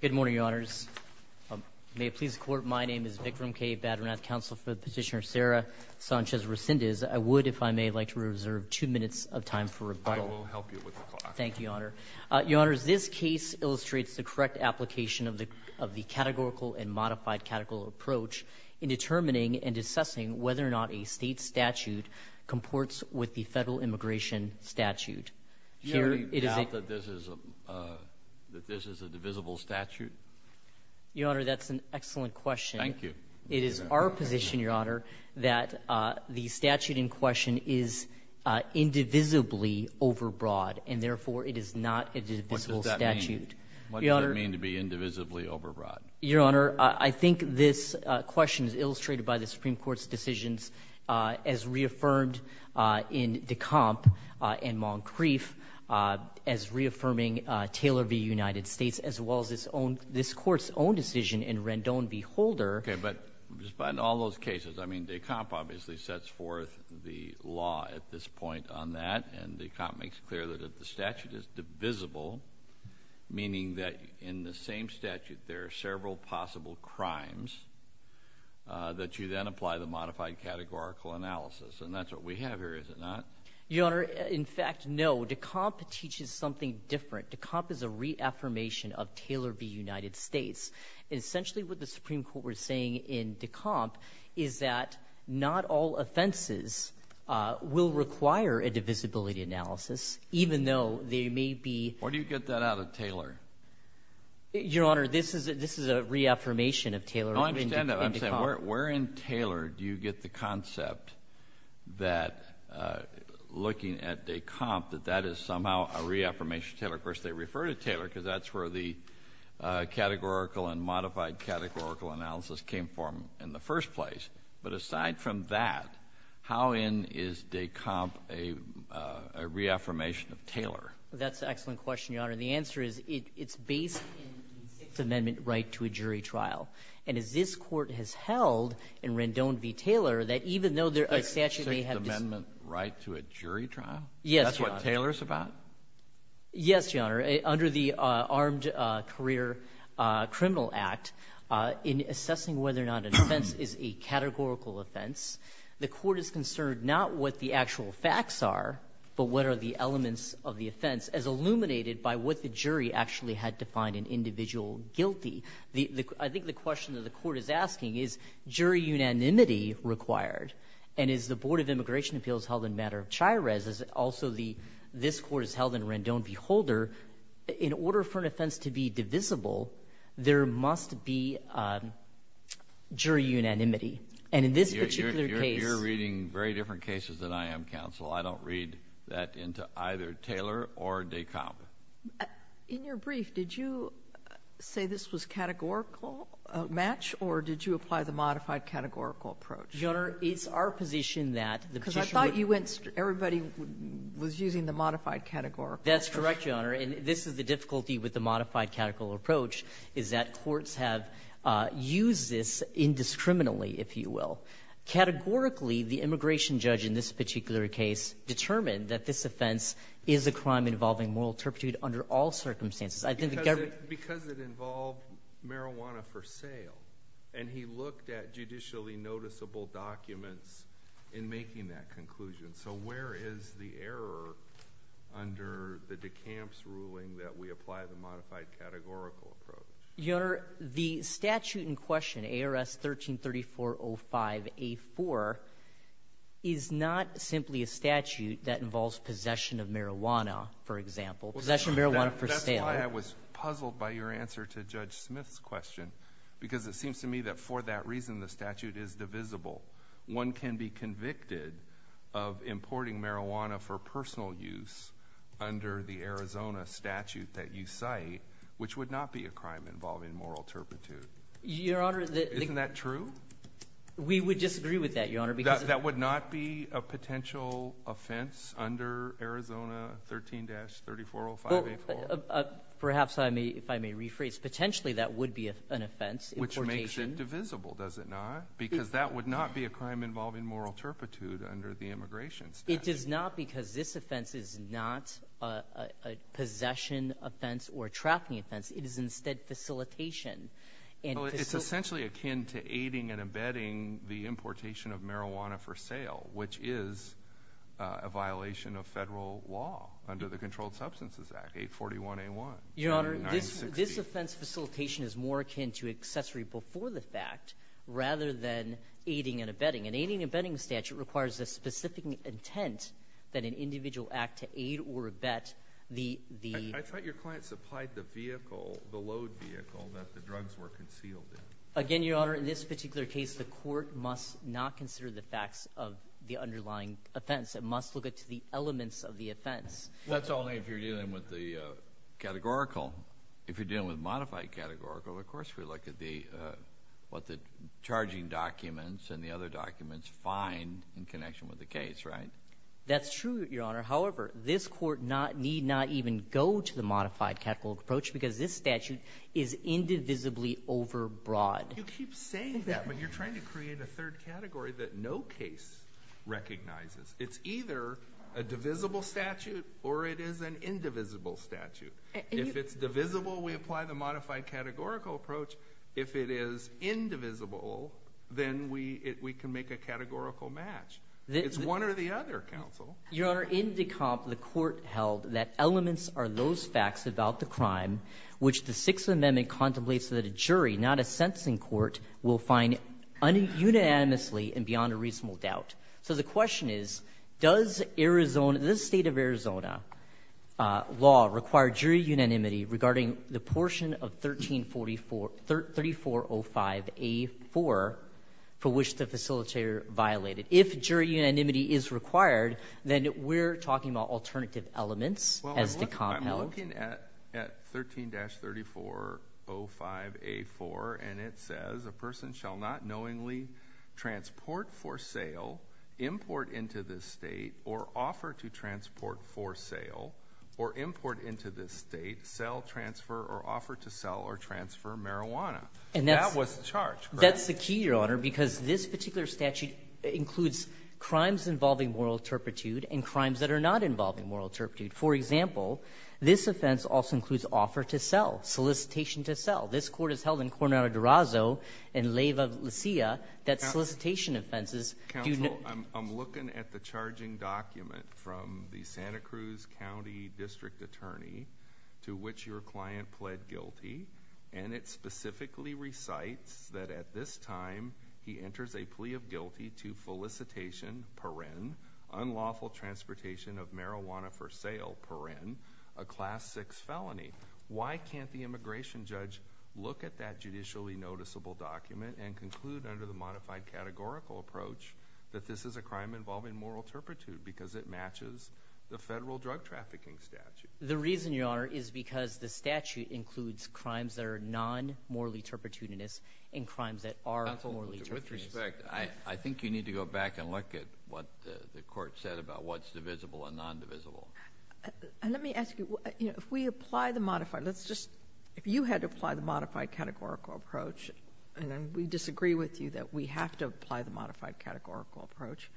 Good morning, Your Honors. May it please the Court, my name is Vikram K. Badranath, Counsel for Petitioner Sarah Sanchez-Resendez. I would, if I may, like to reserve two minutes of time for rebuttal. I will help you with the clock. Thank you, Your Honor. Your Honors, this case illustrates the correct application of the categorical and modified categorical approach in determining and assessing whether or not a state statute comports with the federal immigration statute. Do you doubt that this is a divisible statute? Your Honor, that's an excellent question. Thank you. It is our position, Your Honor, that the statute in question is indivisibly overbroad, and therefore it is not a divisible statute. What does that mean? What does that mean to be indivisibly overbroad? Your Honor, I think this question is illustrated by the Supreme Court's decisions as reaffirmed in de Camp and Moncrieff, as reaffirming Taylor v. United States, as well as its own — this Court's own decision in Rendon v. Holder. Okay. But despite all those cases, I mean, de Camp obviously sets forth the law at this point on that, and de Camp makes clear that if the statute is divisible, meaning that in the same statute there are several possible crimes, that you then apply the modified categorical analysis. And that's what we have here, is it not? Your Honor, in fact, no. De Camp teaches something different. De Camp is a reaffirmation of Taylor v. United States. And essentially what the Supreme Court was saying in de Camp is that not all offenses will require a divisibility analysis, even though they may be — Where do you get that out of Taylor? Your Honor, this is a reaffirmation of Taylor in de Camp. No, I understand that. I'm saying where in Taylor do you get the concept that, looking at de Camp, that that is somehow a reaffirmation of Taylor? Of course, they refer to Taylor because that's where the categorical and modified categorical analysis came from in the first place. But aside from that, how in is de Camp a reaffirmation of Taylor? That's an excellent question, Your Honor. And the answer is, it's based in the Sixth Amendment right to a jury trial. And as this Court has held in Rendon v. Taylor, that even though there are statutes that may have to be — The Sixth Amendment right to a jury trial? Yes, Your Honor. That's what Taylor's about? Yes, Your Honor. Under the Armed Career Criminal Act, in assessing whether or not an offense is a categorical offense, the Court is concerned not what the actual facts are, but what are the elements of the offense, as illuminated by what the jury actually had to find an individual guilty. I think the question that the Court is asking is, jury unanimity required? And as the Board of Immigration Appeals held in matter of Chires, as also the — this Court has held in Rendon v. Holder, in order for an offense to be divisible, there must be jury unanimity. And in this particular case — I won't read that into either Taylor or Descamp. In your brief, did you say this was categorical, a match, or did you apply the modified categorical approach? Your Honor, it's our position that the Petitioner — Because I thought you went — everybody was using the modified categorical approach. That's correct, Your Honor. And this is the difficulty with the modified categorical approach, is that courts have used this indiscriminately, if you will. Categorically, the immigration judge in this particular case determined that this offense is a crime involving moral turpitude under all circumstances. I think the government — Because it involved marijuana for sale, and he looked at judicially noticeable documents in making that conclusion. So where is the error under the Descamp's ruling that we apply the modified categorical approach? Your Honor, the statute in question, ARS 133405A4, is not simply a statute that involves possession of marijuana, for example. Possession of marijuana for sale — That's why I was puzzled by your answer to Judge Smith's question, because it seems to me that for that reason, the statute is divisible. One can be convicted of importing marijuana for personal use under the Arizona statute that you cite, which would not be a crime involving moral turpitude. Your Honor, the — Isn't that true? We would disagree with that, Your Honor, because — That would not be a potential offense under Arizona 13-3405A4? Perhaps, if I may rephrase. Potentially, that would be an offense, importation — Which makes it divisible, does it not? Because that would not be a crime involving moral turpitude under the immigration statute. It does not, because this offense is not a possession offense or a trafficking offense. It is instead facilitation. And — Well, it's essentially akin to aiding and abetting the importation of marijuana for sale, which is a violation of Federal law under the Controlled Substances Act, 841A1 — Your Honor, this offense facilitation is more akin to accessory before the fact, rather than aiding and abetting. And aiding and abetting the statute requires a specific intent that an individual act to aid or abet the — I thought your client supplied the vehicle, the load vehicle, that the drugs were concealed in. Again, Your Honor, in this particular case, the court must not consider the facts of the underlying offense. It must look at the elements of the offense. That's only if you're dealing with the categorical. If you're dealing with modified categorical, of course we look at the — what the charging documents and the other documents find in connection with the case, right? That's true, Your Honor. However, this court not — need not even go to the modified categorical approach because this statute is indivisibly overbroad. You keep saying that, but you're trying to create a third category that no case recognizes. It's either a divisible statute or it is an indivisible statute. If it's divisible, we apply the modified categorical approach. If it is indivisible, then we can make a categorical match. It's one or the other, counsel. Your Honor, in the comp, the court held that elements are those facts about the crime which the Sixth Amendment contemplates that a jury, not a sentencing court, will find unanimously and beyond a reasonable doubt. So the question is, does Arizona — this State of Arizona law require jury unanimity regarding the portion of 1344 — 3405A4 for which the facilitator violated? If jury unanimity is required, then we're talking about alternative elements as the comp held. Well, I'm looking at 13-3405A4, and it says, a person shall not knowingly transport for sale or import into this State, sell, transfer, or offer to sell or transfer marijuana. And that was the charge, correct? That's the key, Your Honor, because this particular statute includes crimes involving moral turpitude and crimes that are not involving moral turpitude. For example, this offense also includes offer to sell, solicitation to sell. This court has held in Coronado d'Orazio and Leyva, Lucia that solicitation offenses do not — from the Santa Cruz County District Attorney, to which your client pled guilty, and it specifically recites that at this time he enters a plea of guilty to solicitation, paren, unlawful transportation of marijuana for sale, paren, a Class 6 felony. Why can't the immigration judge look at that judicially noticeable document and conclude under the modified categorical approach that this is a crime involving moral turpitude because it matches the Federal Drug Trafficking Statute? The reason, Your Honor, is because the statute includes crimes that are non-morally turpitudinous and crimes that are morally turpitudinous. Counsel, with respect, I think you need to go back and look at what the Court said about what's divisible and non-divisible. And let me ask you, you know, if we apply the modified — let's just — if you had to apply the modified categorical approach, and we disagree with you that we have to apply the modified categorical approach,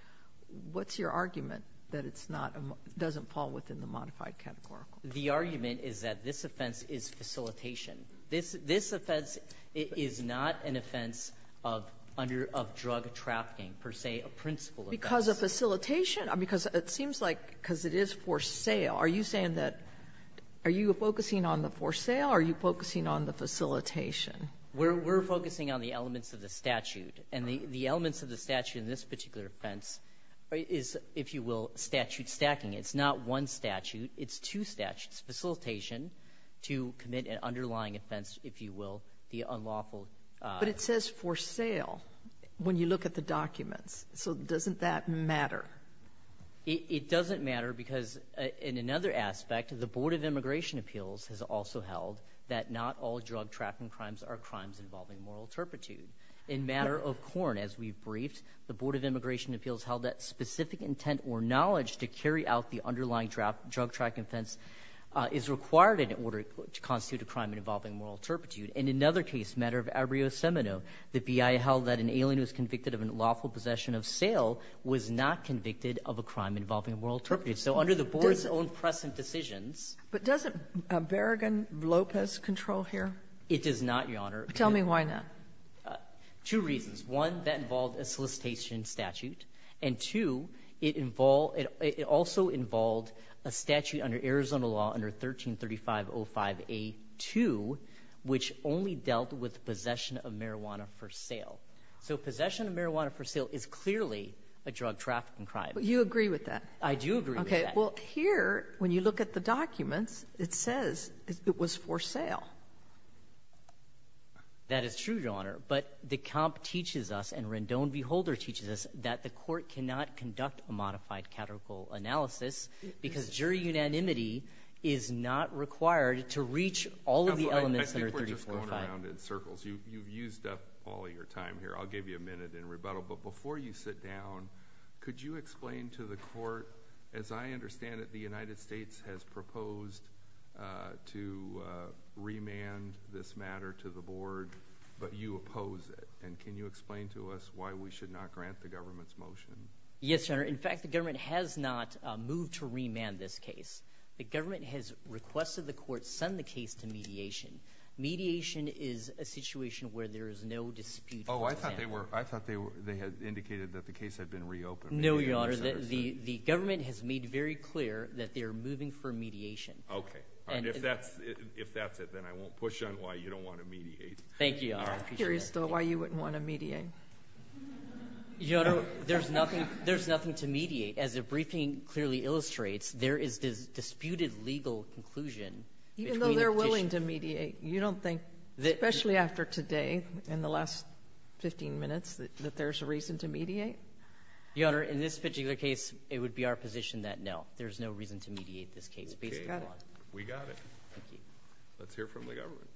what's your argument that it's not — doesn't fall within the modified categorical? The argument is that this offense is facilitation. This — this offense is not an offense of under — of drug trafficking, per se, a principal offense. Because of facilitation? Because it seems like, because it is for sale, are you saying that — are you focusing on the for sale, or are you focusing on the facilitation? We're — we're focusing on the elements of the statute. And the elements of the statute in this particular offense is, if you will, statute stacking. It's not one statute. It's two statutes. Facilitation to commit an underlying offense, if you will, the unlawful — But it says for sale when you look at the documents. So doesn't that matter? It doesn't matter because in another aspect, the Board of Immigration Appeals has also held that not all drug trafficking crimes are crimes involving moral turpitude. In matter of Korn, as we've briefed, the Board of Immigration Appeals held that specific intent or knowledge to carry out the underlying drug trafficking offense is required in order to constitute a crime involving moral turpitude. In another case, matter of Abreu Semino, the BIA held that an alien who was convicted of an unlawful possession of sale was not convicted of a crime involving moral turpitude. So under the Board's own present decisions — Do we have Lopez control here? It does not, Your Honor. Tell me why not. Two reasons. One, that involved a solicitation statute. And two, it involved — it also involved a statute under Arizona law under 133505A2 which only dealt with possession of marijuana for sale. So possession of marijuana for sale is clearly a drug trafficking crime. But you agree with that? I do agree with that. Okay. Well, here, when you look at the documents, it says it was for sale. That is true, Your Honor. But the comp teaches us and Rendon v. Holder teaches us that the court cannot conduct a modified categorical analysis because jury unanimity is not required to reach all of the elements under 1345. I think we're just going around in circles. You've used up all your time here. I'll give you a minute in rebuttal. But before you sit down, could you explain to the court, as I understand it, the United States has proposed to remand this matter to the board, but you oppose it. And can you explain to us why we should not grant the government's motion? Yes, Your Honor. In fact, the government has not moved to remand this case. The government has requested the court send the case to mediation. Mediation is a situation where there is no dispute. Oh, I thought they had indicated that the case had been reopened. No, Your Honor. The government has made very clear that they're moving for mediation. Okay. All right. If that's it, then I won't push on why you don't want to mediate. Thank you, Your Honor. I'm curious, though, why you wouldn't want to mediate. Your Honor, there's nothing to mediate. As the briefing clearly illustrates, there is this disputed legal conclusion between the petitioners. Even though they're willing to mediate. You don't think, especially after today, in the last 15 minutes, that there is a reason to mediate? Your Honor, in this particular case, it would be our position that, no, there is no reason to mediate this case. Okay. Got it. We got it. Thank you. Let's hear from the government.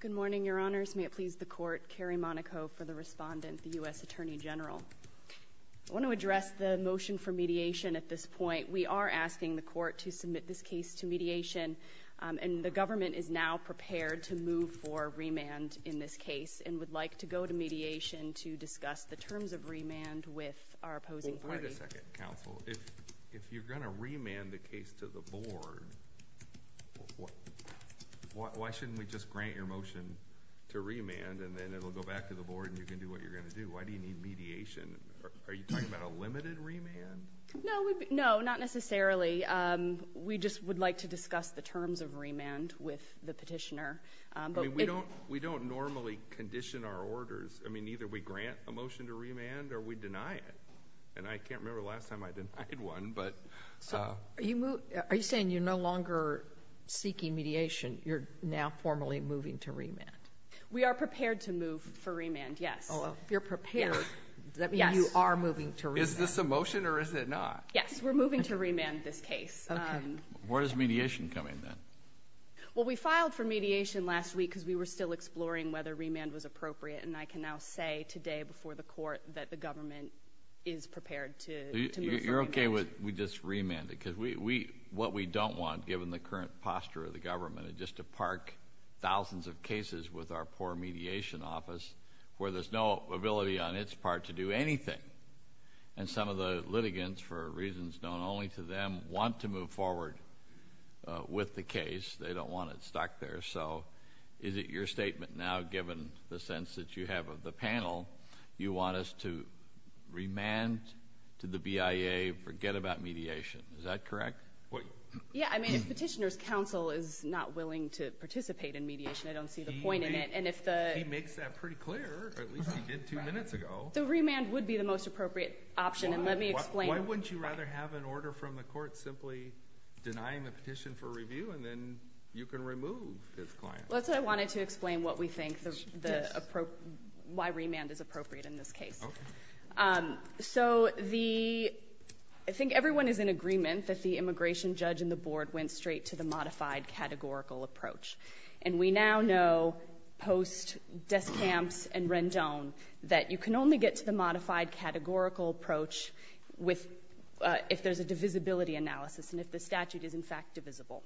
Good morning, Your Honors. May it please the Court. Carrie Monaco for the Respondent, the U.S. Attorney General. I want to address the motion for mediation at this point. We are asking the Court to submit this case to mediation, and the government is now prepared to move for remand in this case, and would like to go to mediation to discuss the terms of remand with our opposing party. Well, wait a second, counsel. If you're going to remand the case to the Board, why shouldn't we just grant your motion to remand, and then it'll go back to the Board, and you can do what you're going to do? Why do you need mediation? Are you talking about a limited remand? No, not necessarily. We just would like to discuss the terms of remand with the petitioner. I mean, we don't normally condition our orders. I mean, either we grant a motion to remand, or we deny it. And I can't remember the last time I denied one. Are you saying you're no longer seeking mediation? You're now formally moving to remand? We are prepared to move for remand, yes. If you're prepared, does that mean you are moving to remand? Is this a motion, or is it not? Yes, we're moving to remand this case. Where does mediation come in, then? Well, we filed for mediation last week, because we were still exploring whether remand was appropriate. And I can now say today before the Court that the government is prepared to move for remand. You're okay with we just remand it? Because what we don't want, given the current posture of the government, is just to park thousands of cases with our poor mediation office, where there's no ability on its part to do anything. And some of the litigants, for reasons known only to them, want to move forward with the case. They don't want it stuck there. So is it your statement now, given the sense that you have of the panel, you want us to remand to the BIA, forget about mediation? Is that correct? Yeah, I mean, if Petitioner's Counsel is not willing to participate in mediation, I don't see the point in it. He makes that pretty clear, or at least he did two minutes ago. So remand would be the most appropriate option. And let me explain. Why wouldn't you rather have an order from the Court simply denying the petition for review, and then you can remove his client? Well, that's what I wanted to explain, why remand is appropriate in this case. Okay. So I think everyone is in agreement that the immigration judge and the Board went straight to the modified categorical approach. And we now know, post Descamps and Rendon, that you can only get to the modified categorical approach if there's a divisibility analysis and if the statute is, in fact, divisible.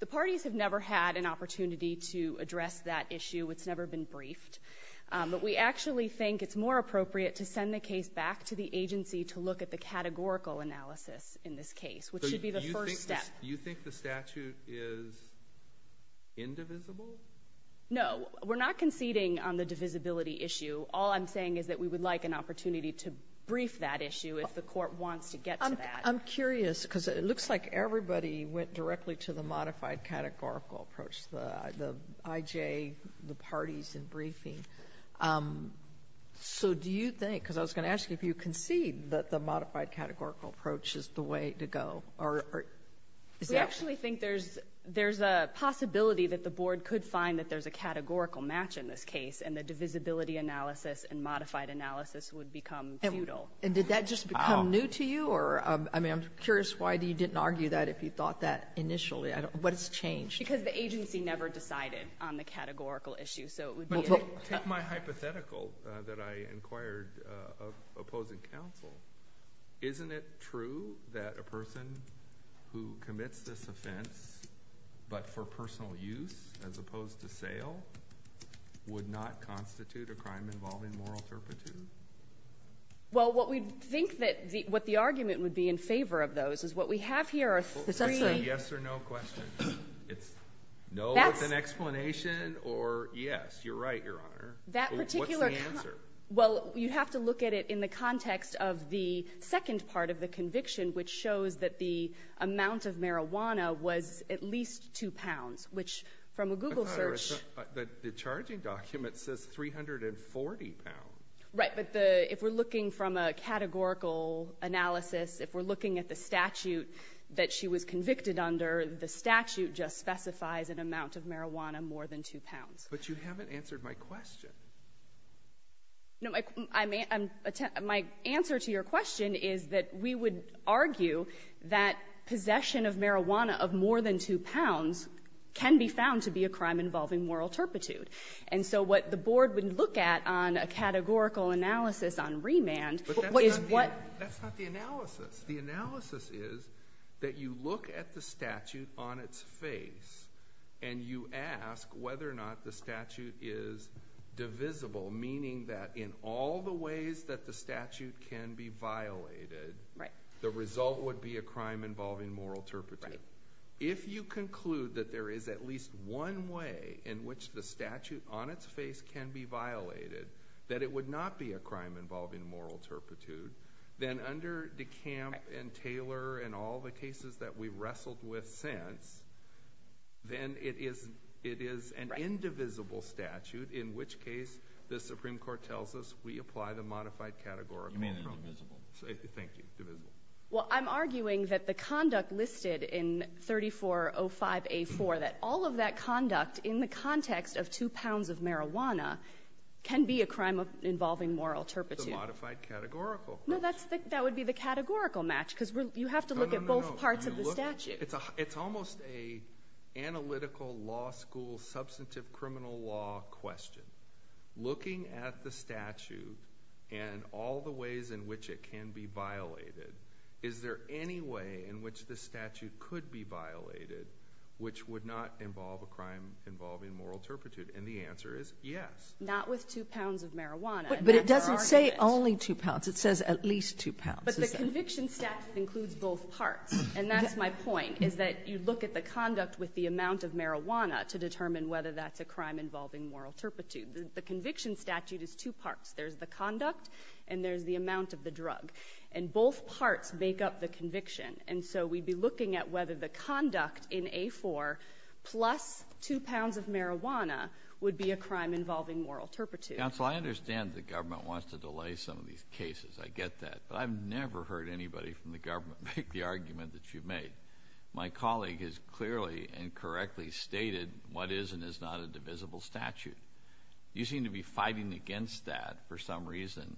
The parties have never had an opportunity to address that issue. It's never been briefed. But we actually think it's more appropriate to send the case back to the agency to look at the categorical analysis in this case, which should be the first step. Do you think the statute is indivisible? No. We're not conceding on the divisibility issue. All I'm saying is that we would like an opportunity to brief that issue if the court wants to get to that. I'm curious, because it looks like everybody went directly to the modified categorical approach, the IJ, the parties in briefing. So do you think, because I was going to ask you if you concede that the modified We actually think there's a possibility that the board could find that there's a categorical match in this case, and the divisibility analysis and modified analysis would become futile. And did that just become new to you? I mean, I'm curious why you didn't argue that if you thought that initially. What has changed? Because the agency never decided on the categorical issue. Take my hypothetical that I inquired of opposing counsel. Isn't it true that a person who commits this offense but for personal use as opposed to sale would not constitute a crime involving moral turpitude? Well, what we think that the argument would be in favor of those is what we have here are three Is that a yes or no question? It's no with an explanation or yes. You're right, Your Honor. What's the answer? Well, you have to look at it in the context of the second part of the conviction, which shows that the amount of marijuana was at least two pounds, which from a Google search. The charging document says 340 pounds. Right, but if we're looking from a categorical analysis, if we're looking at the statute that she was convicted under, the statute just specifies an amount of But you haven't answered my question. No, my answer to your question is that we would argue that possession of marijuana of more than two pounds can be found to be a crime involving moral turpitude. And so what the board would look at on a categorical analysis on remand is what That's not the analysis. The analysis is that you look at the statute on its face and you ask whether or not the statute is divisible, meaning that in all the ways that the statute can be violated, the result would be a crime involving moral turpitude. If you conclude that there is at least one way in which the statute on its face can be violated, that it would not be a crime involving moral turpitude, then under DeCamp and Taylor and all the cases that we've wrestled with since, then it is an indivisible statute, in which case the Supreme Court tells us we apply the modified categorical. You mean indivisible. Thank you. Divisible. Well, I'm arguing that the conduct listed in 3405A4, that all of that conduct in the context of two pounds of marijuana can be a crime involving moral turpitude. It's a modified categorical question. No, that would be the categorical match, because you have to look at both parts of the statute. It's almost an analytical law school, substantive criminal law question. Looking at the statute and all the ways in which it can be violated, is there any way in which the statute could be violated which would not involve a crime involving moral turpitude? And the answer is yes. Not with two pounds of marijuana. But it doesn't say only two pounds, it says at least two pounds. But the conviction statute includes both parts. And that's my point, is that you look at the conduct with the amount of marijuana to determine whether that's a crime involving moral turpitude. The conviction statute is two parts. There's the conduct and there's the amount of the drug. And both parts make up the conviction. And so we'd be looking at whether the conduct in A4 plus two pounds of marijuana would be a crime involving moral turpitude. Counsel, I understand the government wants to delay some of these cases. I get that. But I've never heard anybody from the government make the argument that you've made. My colleague has clearly and correctly stated what is and is not a divisible statute. You seem to be fighting against that for some reason.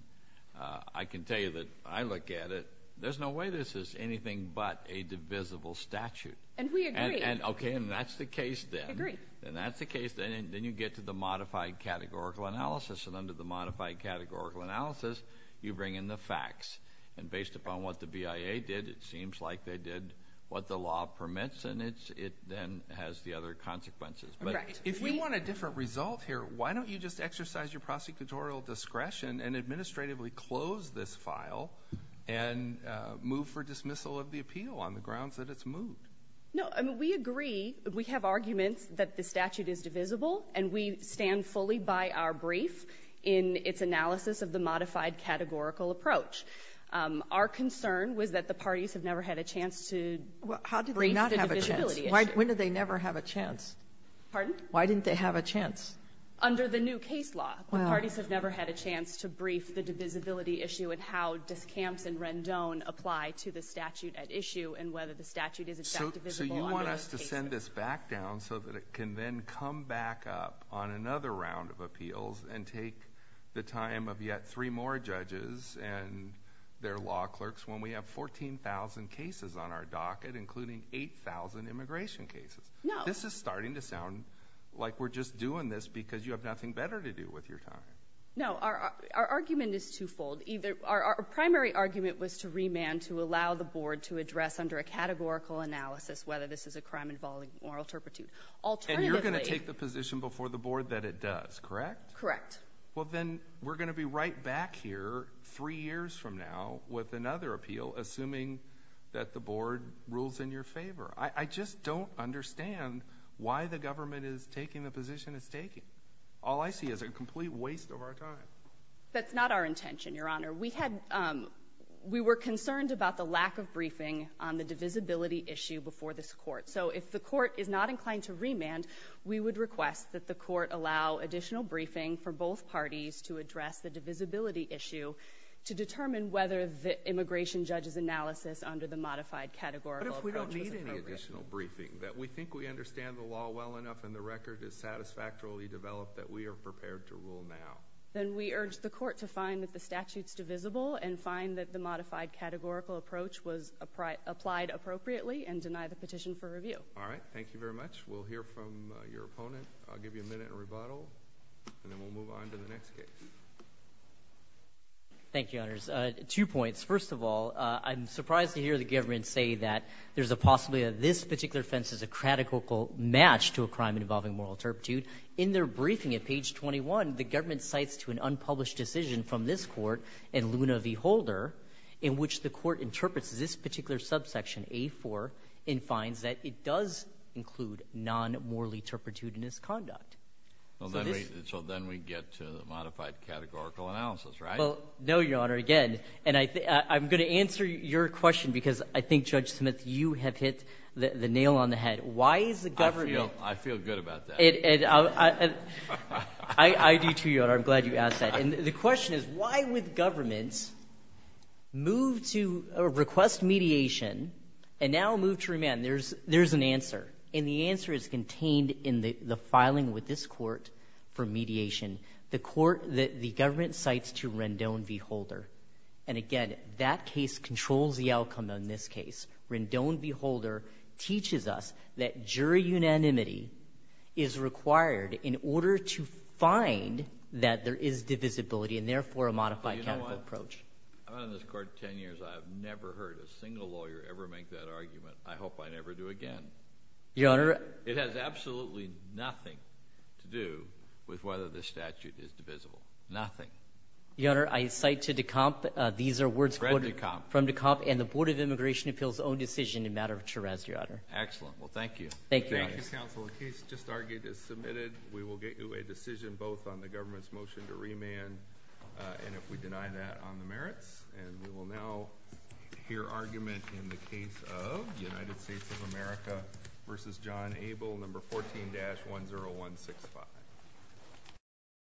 I can tell you that I look at it. There's no way this is anything but a divisible statute. And we agree. Okay, and that's the case then. I agree. And that's the case. Then you get to the modified categorical analysis. And under the modified categorical analysis, you bring in the facts. And based upon what the BIA did, it seems like they did what the law permits. And it then has the other consequences. If we want a different result here, why don't you just exercise your prosecutorial discretion and administratively close this file and move for dismissal of the appeal on the grounds that it's moved? No, we agree. We have arguments that the statute is divisible. And we stand fully by our brief in its analysis of the modified categorical approach. Our concern was that the parties have never had a chance to brief the divisibility issue. Well, how did they not have a chance? When did they never have a chance? Pardon? Why didn't they have a chance? Under the new case law, the parties have never had a chance to brief the divisibility issue and how discounts and Rendon apply to the statute at issue and whether the statute is in fact divisible under those cases. We're supposed to send this back down so that it can then come back up on another round of appeals and take the time of yet three more judges and their law clerks when we have 14,000 cases on our docket, including 8,000 immigration cases. No. This is starting to sound like we're just doing this because you have nothing better to do with your time. No. Our argument is twofold. Our primary argument was to remand to allow the board to address under a categorical analysis whether this is a crime involving moral turpitude. And you're going to take the position before the board that it does, correct? Correct. Well, then we're going to be right back here three years from now with another appeal assuming that the board rules in your favor. I just don't understand why the government is taking the position it's taking. All I see is a complete waste of our time. That's not our intention, Your Honor. We were concerned about the lack of briefing on the divisibility issue before this court. So if the court is not inclined to remand, we would request that the court allow additional briefing for both parties to address the divisibility issue to determine whether the immigration judge's analysis under the modified categorical approach is appropriate. What if we don't need any additional briefing? That we think we understand the law well enough and the record is satisfactorily developed that we are prepared to rule now? Then we urge the court to find that the statute is divisible and find that the modified categorical approach was applied appropriately and deny the petition for review. All right. Thank you very much. We'll hear from your opponent. I'll give you a minute and rebuttal, and then we'll move on to the next case. Thank you, Your Honors. Two points. First of all, I'm surprised to hear the government say that there's a possibility that this particular offense is a categorical match to a crime involving moral turpitude. In their briefing at page 21, the government cites to an unpublished decision from this court in Luna v. Holder in which the court interprets this particular subsection, A-4, and finds that it does include non-morally turpitudinous conduct. So then we get to the modified categorical analysis, right? Well, no, Your Honor. Again, and I'm going to answer your question because I think, Judge Smith, you have hit the nail on the head. Why is the government — I feel good about that. I do, too, Your Honor. I'm glad you asked that. And the question is, why would the government move to — request mediation and now move to remand? There's an answer, and the answer is contained in the filing with this court for mediation, the court that the government cites to Rendon v. Holder. And again, that case controls the outcome on this case. Rendon v. Holder teaches us that jury unanimity is required in order to find that there is divisibility and, therefore, a modified categorical approach. But you know what? I've been on this court 10 years. I have never heard a single lawyer ever make that argument. I hope I never do again. Your Honor — It has absolutely nothing to do with whether the statute is divisible. Nothing. Your Honor, I cite to Decompt — these are words — Fred Decompt. Fred Decompt and the Board of Immigration Appeals' own decision in matter of charres, Your Honor. Excellent. Well, thank you. Thank you. Thank you, counsel. The case just argued is submitted. We will get you a decision both on the government's motion to remand and if we deny that on the merits. And we will now hear argument in the case of United States of America v. John Abel, No. 14-10165.